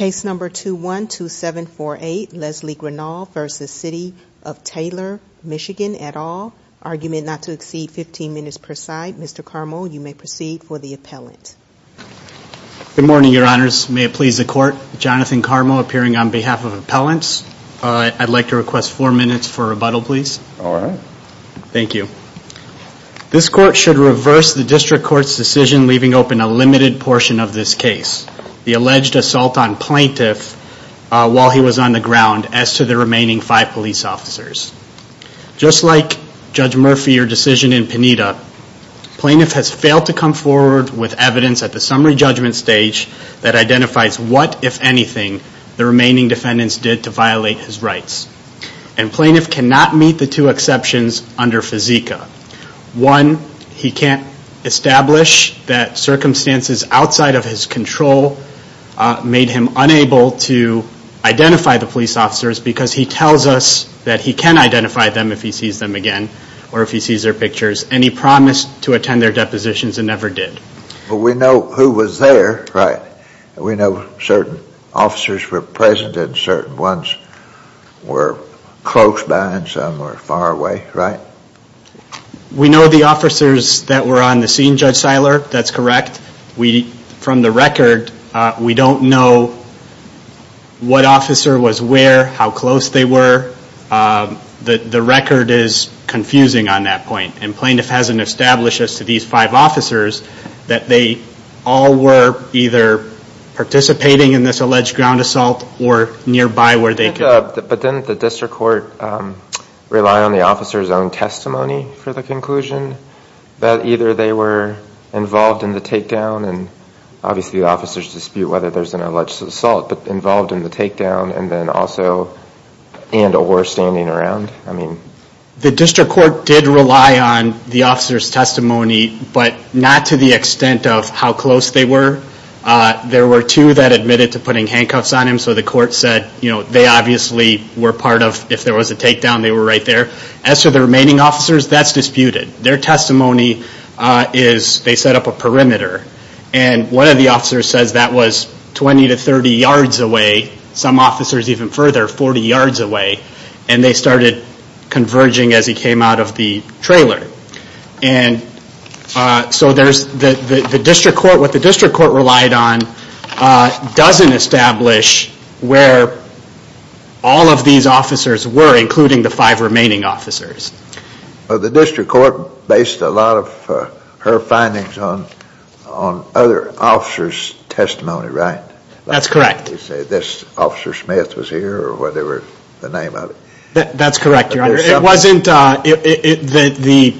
at all. Argument not to exceed 15 minutes per side. Mr. Carmel, you may proceed for the appellant. Good morning, your honors. May it please the court, Jonathan Carmel appearing on behalf of appellants. I'd like to request four minutes for rebuttal, please. All right. Thank you. This court should reverse the district court's decision leaving open a limited portion of this case. The alleged assault on plaintiff while he was on the ground as to the remaining five police officers. Just like Judge Murphy or decision in Pineda, plaintiff has failed to come forward with evidence at the summary judgment stage that identifies what, if anything, the remaining defendants did to violate his control, made him unable to identify the police officers because he tells us that he can identify them if he sees them again or if he sees their pictures and he promised to attend their depositions and never did. But we know who was there, right? We know certain officers were present and certain ones were close by and some were far away, right? We know the officers that were on the scene, Judge Seiler. That's correct. From the record, we don't know what officer was where, how close they were. The record is confusing on that point. And plaintiff hasn't established as to these five officers that they all were either participating in this alleged ground assault or nearby where they could. But didn't the district court rely on the officer's own testimony for the conclusion that either they were involved in the takedown and obviously the officer's dispute whether there's an alleged assault but involved in the takedown and then also and or standing around? The district court did rely on the officer's testimony but not to the extent of how close they were. There were two that admitted to putting if there was a takedown, they were right there. As for the remaining officers, that's disputed. Their testimony is they set up a perimeter. And one of the officers says that was 20 to 30 yards away. Some officers even further, 40 yards away. And they started converging as he came out of the trailer. And so there's the district court, what the district court relied on doesn't establish where all of these officers were, including the five remaining officers. The district court based a lot of her findings on other officers' testimony, right? That's correct. This officer Smith was here or whatever the name of it. That's correct. It wasn't the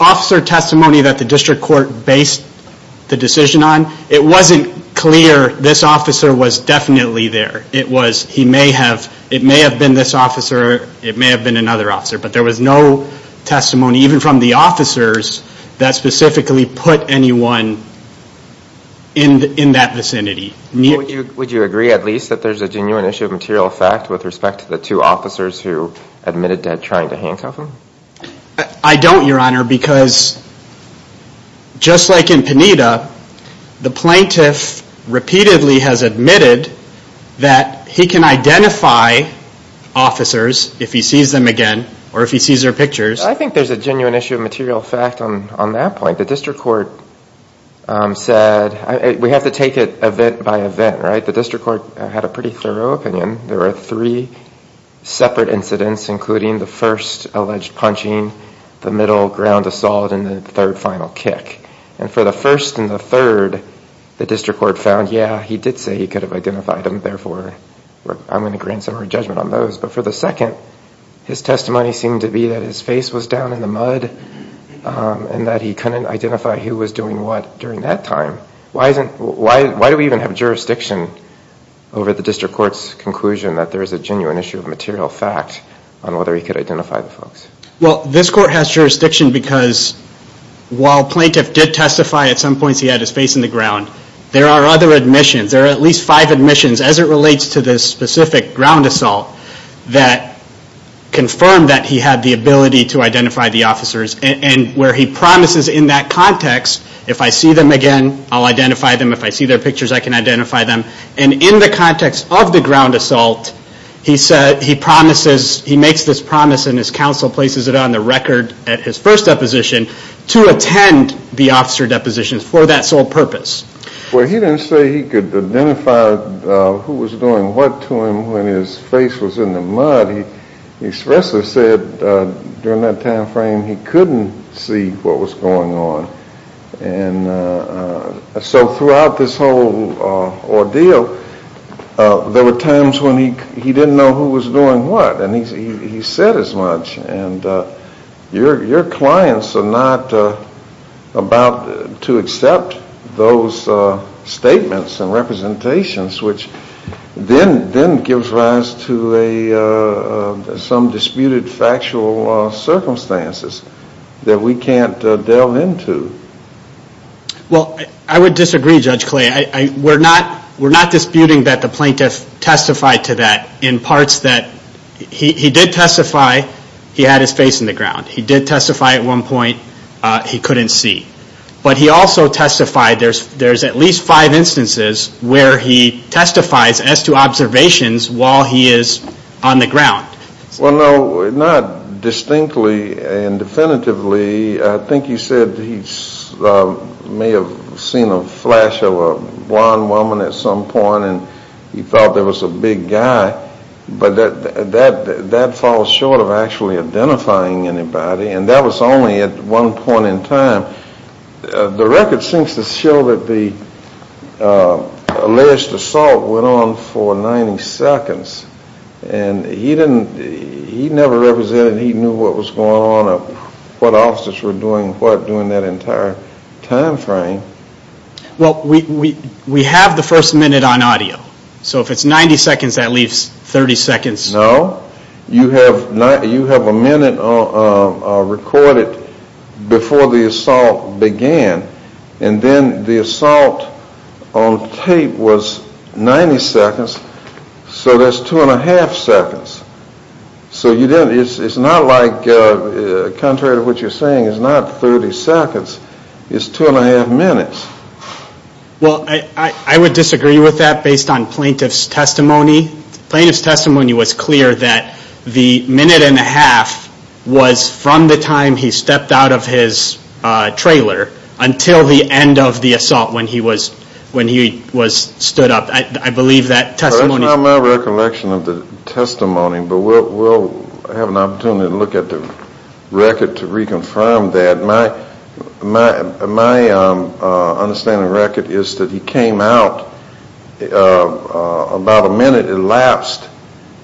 officer testimony that the district court based the decision on. It wasn't clear this officer was definitely there. It was he may have, it may have been this officer, it may have been another officer, but there was no testimony even from the officers that specifically put anyone in that vicinity. Would you agree at least that there's a genuine issue of material fact with respect to the two officers who admitted to trying to handcuff him? I don't, Your Honor, because just like in Panita, the plaintiff repeatedly has admitted that he can identify officers if he sees them again, or if he sees their pictures. I think there's a genuine issue of material fact on that point. The district court said, we have to take it event by event, right? The district court had a pretty thorough opinion. There were three separate incidents, including the first alleged punching, the middle ground assault, and the third final kick. And for the first and the third, the district court found, yeah, he did say he could have and that he couldn't identify who was doing what during that time. Why do we even have jurisdiction over the district court's conclusion that there is a genuine issue of material fact on whether he could identify the folks? Well, this court has jurisdiction because while plaintiff did testify at some points he had his face in the ground, there are other admissions. There are at least five admissions, as it relates to this specific ground assault, that confirmed that he had the ability to identify the officers. And where he promises in that context, if I see them again, I'll identify them. If I see their pictures, I can identify them. And in the context of the ground assault, he makes this promise and his counsel places it on the record at his first deposition to attend the officer depositions for that sole purpose. Well, he didn't say he could identify who was doing what to him when his face was in the mud. He expressly said during that time frame he couldn't see what was going on. And so throughout this whole ordeal, there were times when he didn't know who was doing what. And he said as much. And your clients are not about to accept those statements and representations, which then gives rise to some disputed factual circumstances that we can't delve into. Well, I would disagree, Judge Clay. We're not disputing that the plaintiff testified to that in parts that he did testify he had his face in the ground. He did testify at one point he couldn't see. But he also testified there's at least five instances where he testifies as to observations while he is on the ground. Well, no, not distinctly and definitively. I think you said he may have seen a flash of a blonde woman at some point and he thought there was a big guy. But that falls short of actually identifying anybody. And that was only at one point in time. The record seems to show that the alleged assault went on for 90 seconds. And he never represented he knew what was going on or what officers were doing what during that entire time frame. Well, we have the first minute on audio. So if it's 90 seconds, that leaves 30 seconds. No, you have a minute recorded before the assault began. And then the assault on tape was 90 seconds. So that's two and a half seconds. So it's not like, contrary to what you're saying, it's not 30 seconds. It's two and a half minutes. Well, I would disagree with that based on plaintiff's testimony. Plaintiff's testimony was clear that the minute and a half was from the time he stepped out of his trailer until the end of the assault when he was stood up. It's not my recollection of the testimony, but we'll have an opportunity to look at the record to reconfirm that. My understanding of the record is that he came out about a minute at last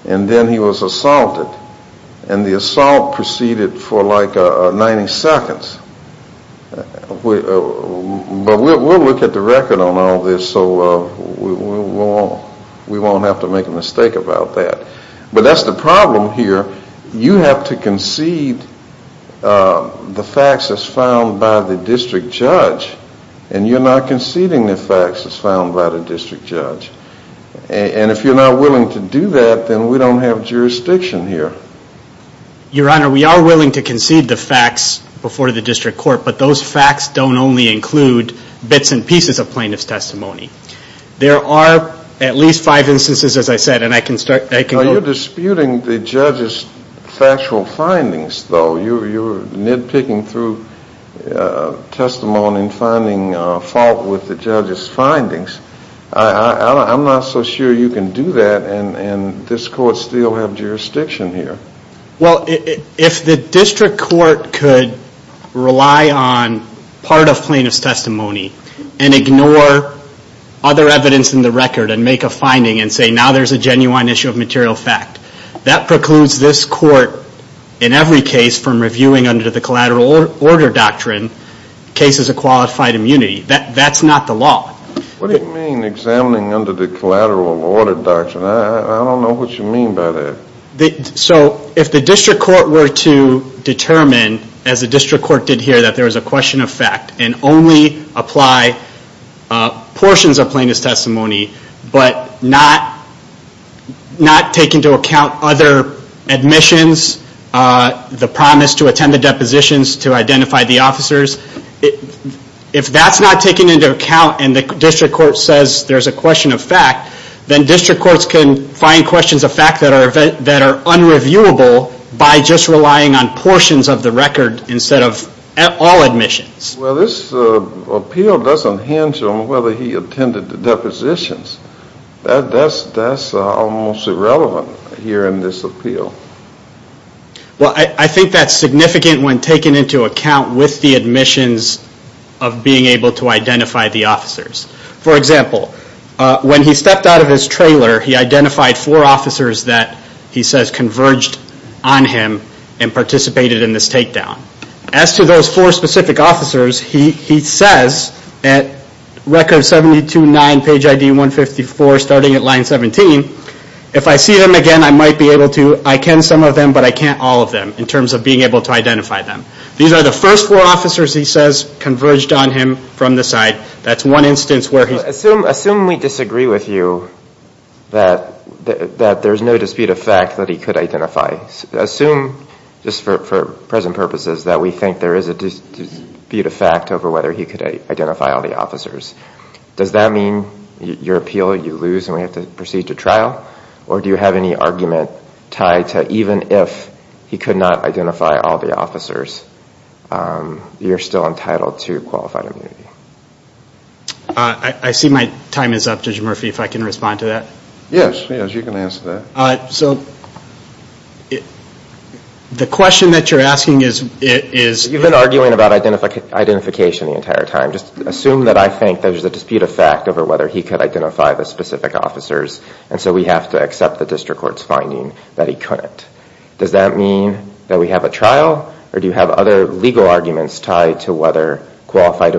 and then he was assaulted. And the assault proceeded for like 90 seconds. But we'll look at the record on all this so we won't have to make a mistake about that. But that's the problem here. You have to concede the facts as found by the district judge and you're not conceding the facts as found by the district judge. And if you're not willing to do that, then we don't have jurisdiction here. Your Honor, we are willing to concede the facts before the district court, but those facts don't only include bits and pieces of plaintiff's testimony. There are at least five instances, as I said, and I can start – You're disputing the judge's factual findings, though. You're nitpicking through testimony and finding fault with the judge's findings. I'm not so sure you can do that and this court still have jurisdiction here. Well, if the district court could rely on part of plaintiff's testimony and ignore other evidence in the record and make a finding and say now there's a genuine issue of material fact, that precludes this court in every case from reviewing under the collateral order doctrine cases of qualified immunity. That's not the law. What do you mean examining under the collateral order doctrine? I don't know what you mean by that. So if the district court were to determine, as the district court did here, that there was a question of fact and only apply portions of plaintiff's testimony, but not take into account other admissions, the promise to attend the depositions to identify the officers. If that's not taken into account and the district court says there's a question of fact, then district courts can find questions of fact that are unreviewable by just relying on portions of the record instead of all admissions. Well, this appeal doesn't hinge on whether he attended the depositions. That's almost irrelevant here in this appeal. Well, I think that's significant when taken into account with the admissions of being able to identify the officers. For example, when he stepped out of his trailer, he identified four officers that he says converged on him and participated in this takedown. As to those four specific officers, he says at record 72-9, page ID 154, starting at line 17, if I see them again, I might be able to, I can some of them, but I can't all of them in terms of being able to identify them. These are the first four officers he says converged on him from the side. That's one instance where he's... Do you think there is a dispute of fact over whether he could identify all the officers? Does that mean your appeal, you lose and we have to proceed to trial? Or do you have any argument tied to even if he could not identify all the officers, you're still entitled to qualified immunity? I see my time is up. Judge Murphy, if I can respond to that. Yes, yes, you can answer that. So the question that you're asking is... You've been arguing about identification the entire time. Just assume that I think there's a dispute of fact over whether he could identify the specific officers, and so we have to accept the district court's finding that he couldn't. Does that mean that we have a trial? Or do you have other legal arguments tied to whether qualified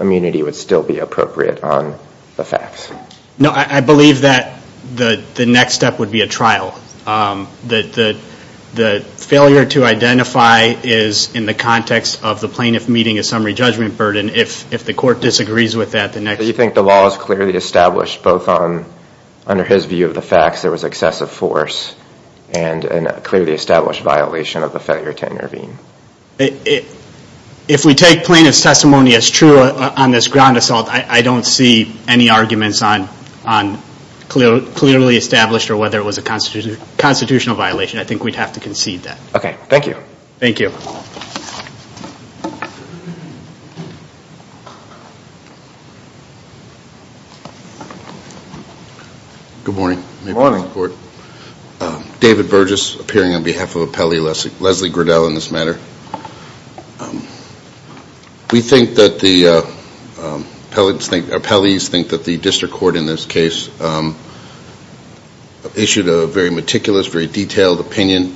immunity would still be appropriate on the facts? No, I believe that the next step would be a trial. The failure to identify is in the context of the plaintiff meeting a summary judgment burden. If the court disagrees with that, the next... Do you think the law is clearly established both under his view of the facts there was excessive force and a clearly established violation of the failure to intervene? If we take plaintiff's testimony as true on this ground assault, I don't see any arguments on clearly established or whether it was a constitutional violation. I think we'd have to concede that. Okay, thank you. Thank you. Good morning. Good morning. David Burgess, appearing on behalf of Appellee Leslie Griddell in this matter. We think that the appellees think that the district court in this case issued a very meticulous, very detailed opinion,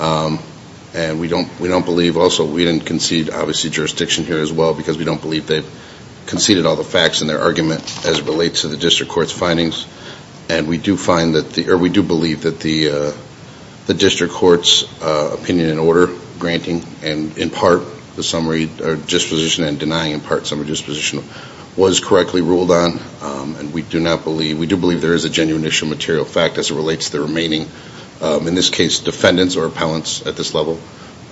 and we don't believe. Also, we didn't concede, obviously, jurisdiction here as well, because we don't believe they conceded all the facts in their argument as it relates to the district court's findings. And we do believe that the district court's opinion in order, granting in part the summary disposition and denying in part summary disposition, was correctly ruled on. And we do believe there is a genuine issue of material fact as it relates to the remaining, in this case, defendants or appellants at this level.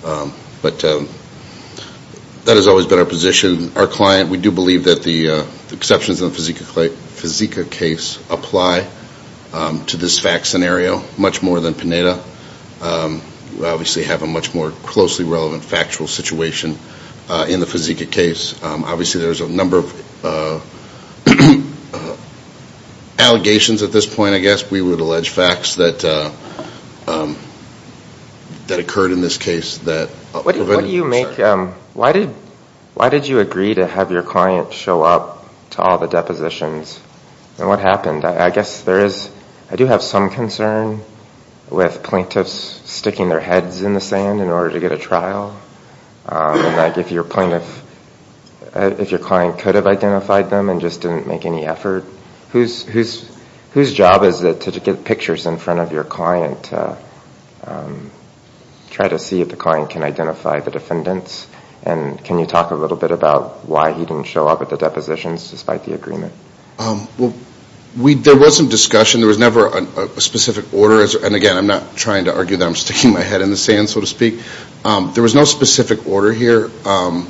But that has always been our position. Our client, we do believe that the exceptions in the Fizika case apply to this fact scenario much more than Pineda. We obviously have a much more closely relevant factual situation in the Fizika case. Obviously, there's a number of allegations at this point, I guess. We would allege facts that occurred in this case. What do you make, why did you agree to have your client show up to all the depositions? And what happened? I guess there is, I do have some concern with plaintiffs sticking their heads in the sand in order to get a trial. If your client could have identified them and just didn't make any effort, whose job is it to get pictures in front of your client to try to see if the client can identify the defendants? And can you talk a little bit about why he didn't show up at the depositions despite the agreement? Well, there was some discussion. There was never a specific order. And again, I'm not trying to argue that I'm sticking my head in the sand, so to speak. There was no specific order here. I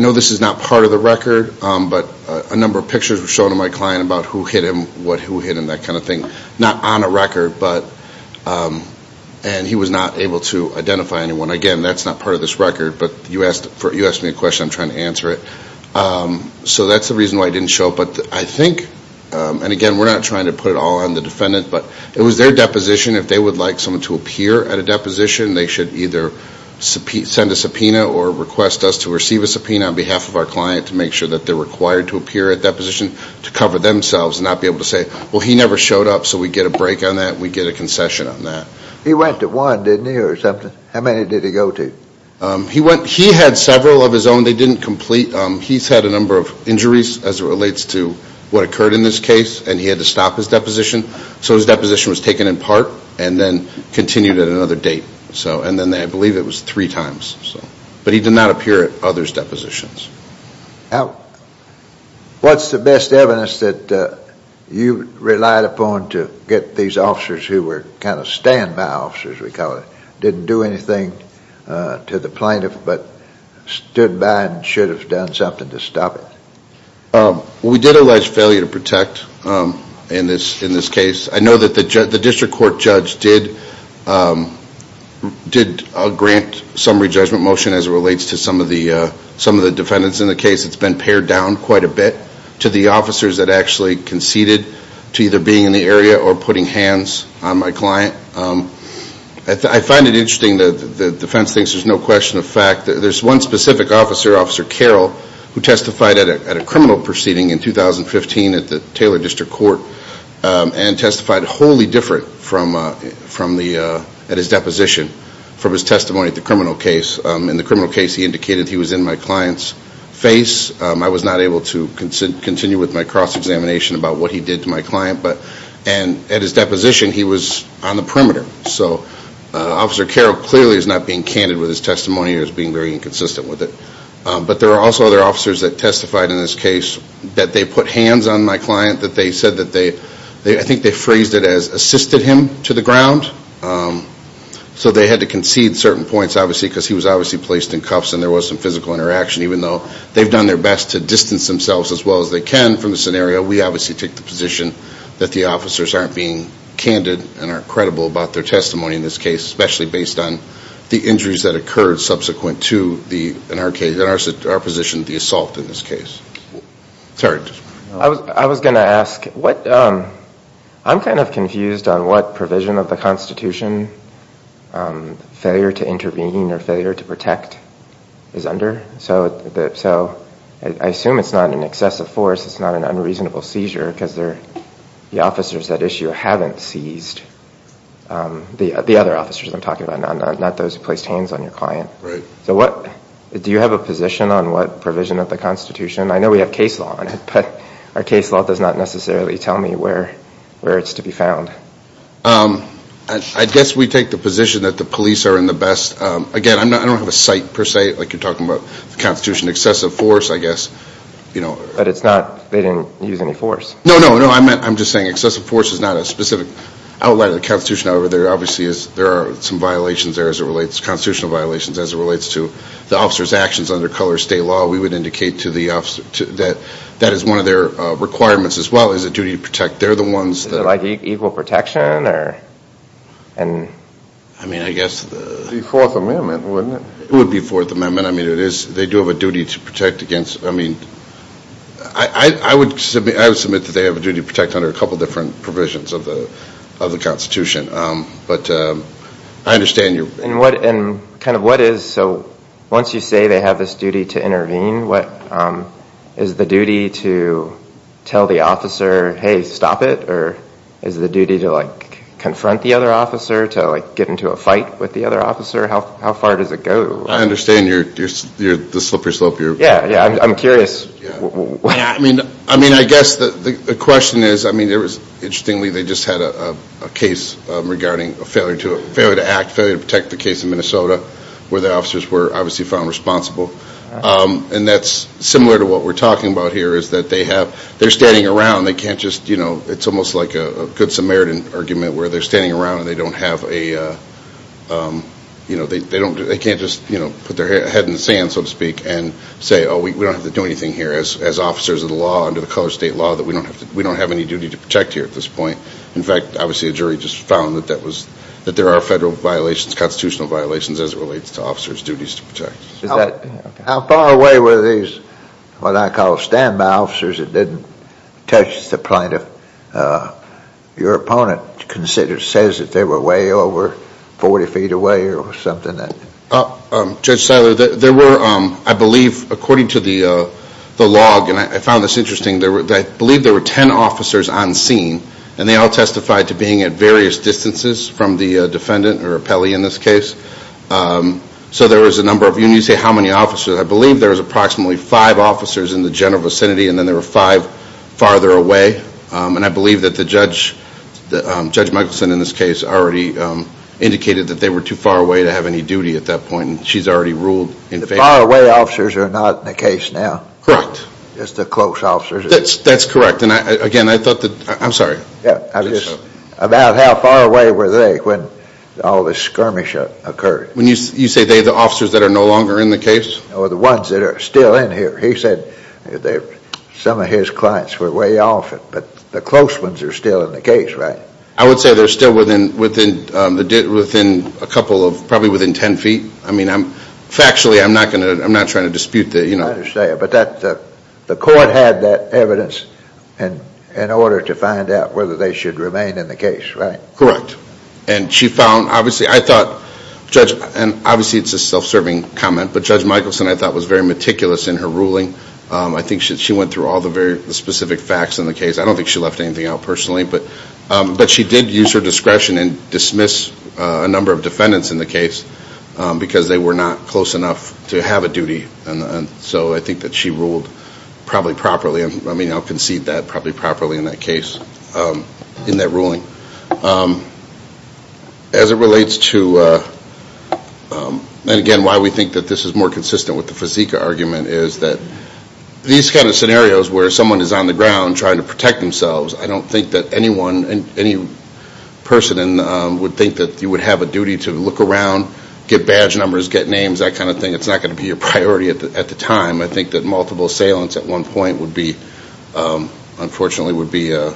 know this is not part of the record, but a number of pictures were shown to my client about who hit him, what who hit him, that kind of thing. Not on a record, and he was not able to identify anyone. Again, that's not part of this record, but you asked me a question. I'm trying to answer it. So that's the reason why he didn't show up. And again, we're not trying to put it all on the defendant, but it was their deposition. If they would like someone to appear at a deposition, they should either send a subpoena or request us to receive a subpoena on behalf of our client to make sure that they're required to appear at deposition to cover themselves and not be able to say, well, he never showed up, so we get a break on that, and we get a concession on that. He went to one, didn't he, or something? How many did he go to? He had several of his own. They didn't complete. He's had a number of injuries as it relates to what occurred in this case, and he had to stop his deposition. So his deposition was taken in part and then continued at another date. And then I believe it was three times. But he did not appear at others' depositions. What's the best evidence that you relied upon to get these officers who were kind of stand-by officers, we call it, didn't do anything to the plaintiff but stood by and should have done something to stop it? We did allege failure to protect in this case. I know that the district court judge did grant summary judgment motion as it relates to some of the defendants in the case. It's been pared down quite a bit to the officers that actually conceded to either being in the area or putting hands on my client. I find it interesting that the defense thinks there's no question of fact. There's one specific officer, Officer Carroll, who testified at a criminal proceeding in 2015 at the Taylor District Court and testified wholly different at his deposition from his testimony at the criminal case. In the criminal case, he indicated he was in my client's face. I was not able to continue with my cross-examination about what he did to my client. And at his deposition, he was on the perimeter. So Officer Carroll clearly is not being candid with his testimony or is being very inconsistent with it. But there are also other officers that testified in this case that they put hands on my client, that they said that they – I think they phrased it as assisted him to the ground. So they had to concede certain points, obviously, because he was obviously placed in cuffs and there was some physical interaction even though they've done their best to distance themselves as well as they can from the scenario. We obviously take the position that the officers aren't being candid and aren't credible about their testimony in this case, especially based on the injuries that occurred subsequent to the – in our case, in our position, the assault in this case. Terry. I was going to ask what – I'm kind of confused on what provision of the Constitution failure to intervene or failure to protect is under. So I assume it's not an excessive force. It's not an unreasonable seizure because they're – the officers at issue haven't seized the other officers I'm talking about, not those who placed hands on your client. Right. So what – do you have a position on what provision of the Constitution – I know we have case law on it, but our case law does not necessarily tell me where it's to be found. I guess we take the position that the police are in the best – again, I don't have a site per se, like you're talking about the Constitution, excessive force, I guess. But it's not – they didn't use any force. No, no, no. I'm just saying excessive force is not a specific outlet of the Constitution. However, there obviously is – there are some violations there as it relates – constitutional violations as it relates to the officers' actions under color state law. We would indicate to the officer that that is one of their requirements as well as a duty to protect. They're the ones that – Is it like equal protection or – I mean, I guess – It would be Fourth Amendment, wouldn't it? It would be Fourth Amendment. I mean, it is – they do have a duty to protect against – I mean, I would submit that they have a duty to protect under a couple different provisions of the Constitution. But I understand your – And what – and kind of what is – so once you say they have this duty to intervene, what – is the duty to tell the officer, hey, stop it? Or is the duty to, like, confront the other officer, to, like, get into a fight with the other officer? How far does it go? I understand you're – you're the slippery slope. Yeah, yeah, I'm curious. I mean, I guess the question is, I mean, interestingly, they just had a case regarding a failure to act, failure to protect the case in Minnesota where the officers were obviously found responsible. And that's similar to what we're talking about here is that they have – they're standing around. They can't just – you know, it's almost like a Good Samaritan argument where they're standing around and they don't have a – you know, they don't – they can't just, you know, put their head in the sand, so to speak, and say, oh, we don't have to do anything here as officers of the law, under the color of state law, that we don't have any duty to protect here at this point. In fact, obviously a jury just found that that was – that there are federal violations, How far away were these what I call standby officers that didn't touch the plaintiff? Your opponent considers – says that they were way over 40 feet away or something like that. Judge Seiler, there were, I believe, according to the log, and I found this interesting, I believe there were 10 officers on scene, and they all testified to being at various distances from the defendant or appellee in this case. So there was a number of – you need to say how many officers. I believe there was approximately five officers in the general vicinity, and then there were five farther away. And I believe that the judge, Judge Michelson in this case, already indicated that they were too far away to have any duty at that point, and she's already ruled in favor. The far away officers are not in the case now. Correct. Just the close officers. That's correct. And again, I thought that – I'm sorry. About how far away were they when all this skirmish occurred? When you say they're the officers that are no longer in the case? Or the ones that are still in here. He said some of his clients were way off, but the close ones are still in the case, right? I would say they're still within a couple of – probably within 10 feet. I mean, factually, I'm not trying to dispute that. I understand. But the court had that evidence in order to find out whether they should remain in the case, right? Correct. And she found, obviously, I thought – and obviously it's a self-serving comment, but Judge Michelson, I thought, was very meticulous in her ruling. I think she went through all the very specific facts in the case. I don't think she left anything out personally, but she did use her discretion and dismiss a number of defendants in the case because they were not close enough to have a duty. And so I think that she ruled probably properly. I mean, I'll concede that probably properly in that case, in that ruling. As it relates to – and again, why we think that this is more consistent with the Fizika argument is that these kind of scenarios where someone is on the ground trying to protect themselves, I don't think that anyone, any person would think that you would have a duty to look around, get badge numbers, get names, that kind of thing. It's not going to be a priority at the time. I think that multiple assailants at one point would be – unfortunately would be a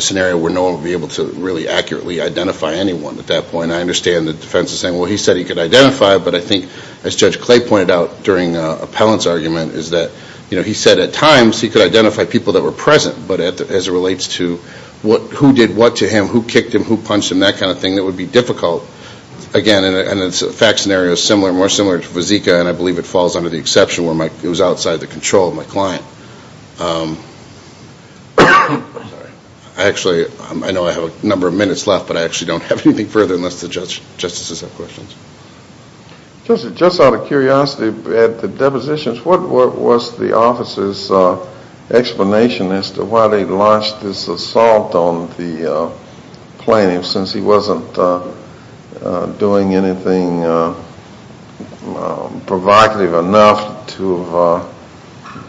scenario where no one would be able to really accurately identify anyone at that point. I understand the defense is saying, well, he said he could identify, but I think, as Judge Clay pointed out during Appellant's argument, is that he said at times he could identify people that were present, but as it relates to who did what to him, who kicked him, who punched him, that kind of thing, that would be difficult. Again, and it's a fact scenario similar, more similar to Fizika, and I believe it falls under the exception where it was outside the control of my client. Actually, I know I have a number of minutes left, but I actually don't have anything further unless the Justices have questions. Just out of curiosity, at the depositions, what was the officer's explanation as to why they launched this assault on the plaintiff since he wasn't doing anything provocative enough to have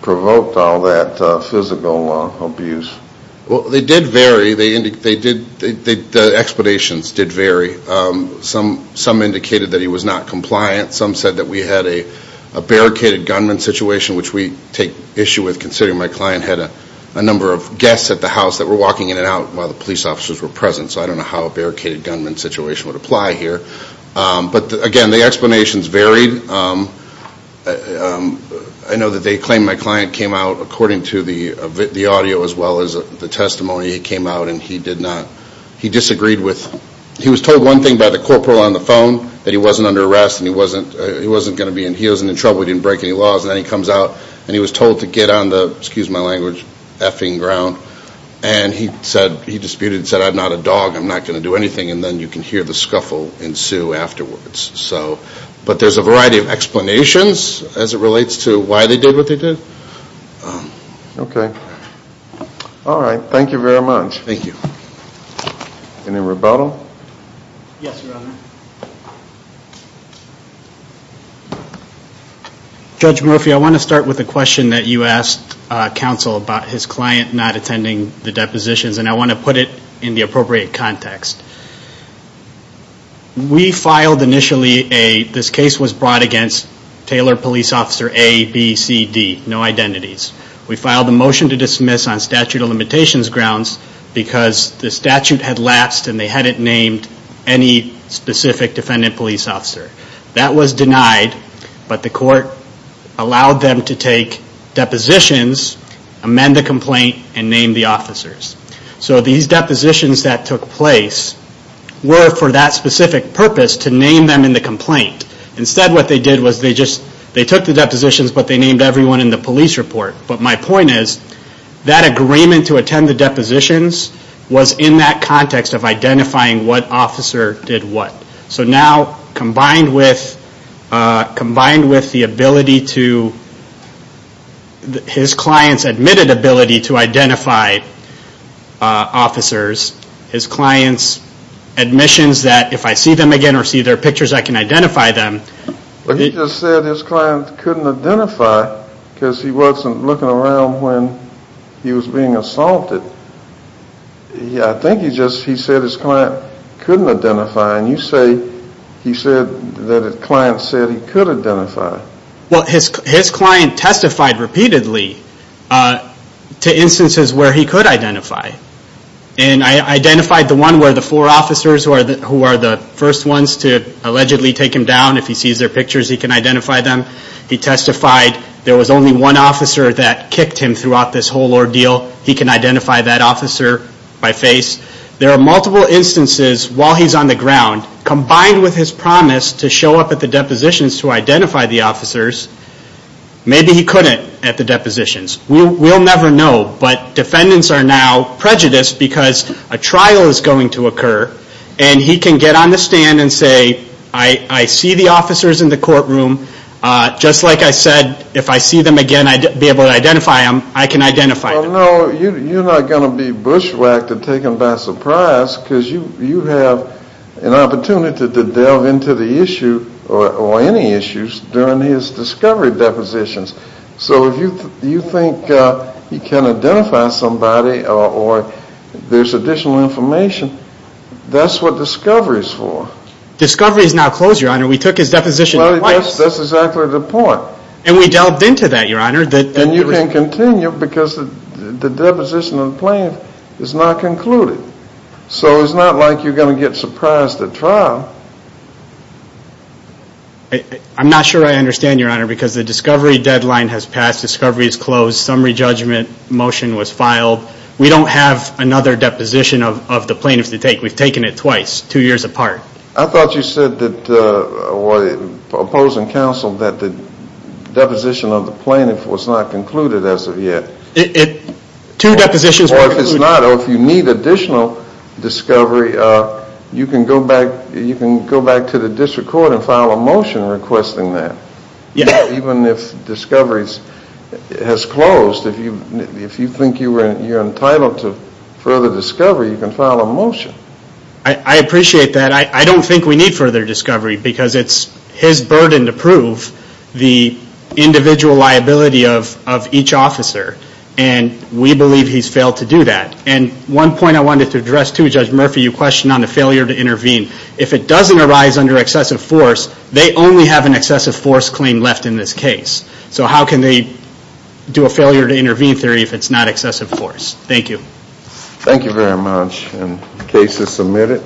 provoked all that physical abuse? Well, they did vary. The explanations did vary. Some indicated that he was not compliant. Some said that we had a barricaded gunman situation, which we take issue with considering my client had a number of guests at the house that were walking in and out while the police officers were present. So I don't know how a barricaded gunman situation would apply here. But, again, the explanations varied. I know that they claimed my client came out, according to the audio as well as the testimony, he came out and he disagreed with – he was told one thing by the corporal on the phone, that he wasn't under arrest and he wasn't going to be – he wasn't in trouble, we didn't break any laws, and then he comes out and he was told to get on the – excuse my language – effing ground. And he disputed and said, I'm not a dog, I'm not going to do anything, and then you can hear the scuffle ensue afterwards. But there's a variety of explanations as it relates to why they did what they did. Okay. All right. Thank you very much. Thank you. Any rebuttal? Yes, Your Honor. Judge Murphy, I want to start with a question that you asked counsel about his client not attending the depositions, and I want to put it in the appropriate context. We filed initially a – this case was brought against Taylor police officer A, B, C, D. No identities. We filed a motion to dismiss on statute of limitations grounds because the statute had lapsed and they hadn't named any specific defendant police officer. That was denied, but the court allowed them to take depositions, amend the complaint, and name the officers. So these depositions that took place were for that specific purpose, to name them in the complaint. Instead what they did was they just – they took the depositions, but they named everyone in the police report. But my point is that agreement to attend the depositions was in that context of identifying what officer did what. So now combined with the ability to – his client's admitted ability to identify officers, his client's admissions that if I see them again or see their pictures I can identify them. But he just said his client couldn't identify because he wasn't looking around when he was being assaulted. I think he just – he said his client couldn't identify, and you say he said that his client said he could identify. Well, his client testified repeatedly to instances where he could identify. And I identified the one where the four officers who are the first ones to allegedly take him down, if he sees their pictures he can identify them. He testified there was only one officer that kicked him throughout this whole ordeal. He can identify that officer by face. There are multiple instances while he's on the ground, combined with his promise to show up at the depositions to identify the officers, maybe he couldn't at the depositions. We'll never know, but defendants are now prejudiced because a trial is going to occur, and he can get on the stand and say, I see the officers in the courtroom. Just like I said, if I see them again I'd be able to identify them. I can identify them. Well, no, you're not going to be bushwhacked or taken by surprise because you have an opportunity to delve into the issue or any issues during his discovery depositions. So if you think he can identify somebody or there's additional information, that's what discovery is for. Discovery is now closed, Your Honor. We took his deposition twice. That's exactly the point. And we delved into that, Your Honor. And you can continue because the deposition of the plaintiff is not concluded. So it's not like you're going to get surprised at trial. I'm not sure I understand, Your Honor, because the discovery deadline has passed. Discovery is closed. Summary judgment motion was filed. We don't have another deposition of the plaintiff to take. We've taken it twice, two years apart. I thought you said that opposing counsel that the deposition of the plaintiff was not concluded as of yet. Two depositions were concluded. Or if it's not, or if you need additional discovery, you can go back to the district court and file a motion requesting that. Even if discovery has closed, if you think you're entitled to further discovery, you can file a motion. I appreciate that. I don't think we need further discovery because it's his burden to prove the individual liability of each officer. And we believe he's failed to do that. And one point I wanted to address, too, Judge Murphy, you questioned on the failure to intervene. If it doesn't arise under excessive force, they only have an excessive force claim left in this case. So how can they do a failure to intervene theory if it's not excessive force? Thank you. Thank you very much. The case is submitted.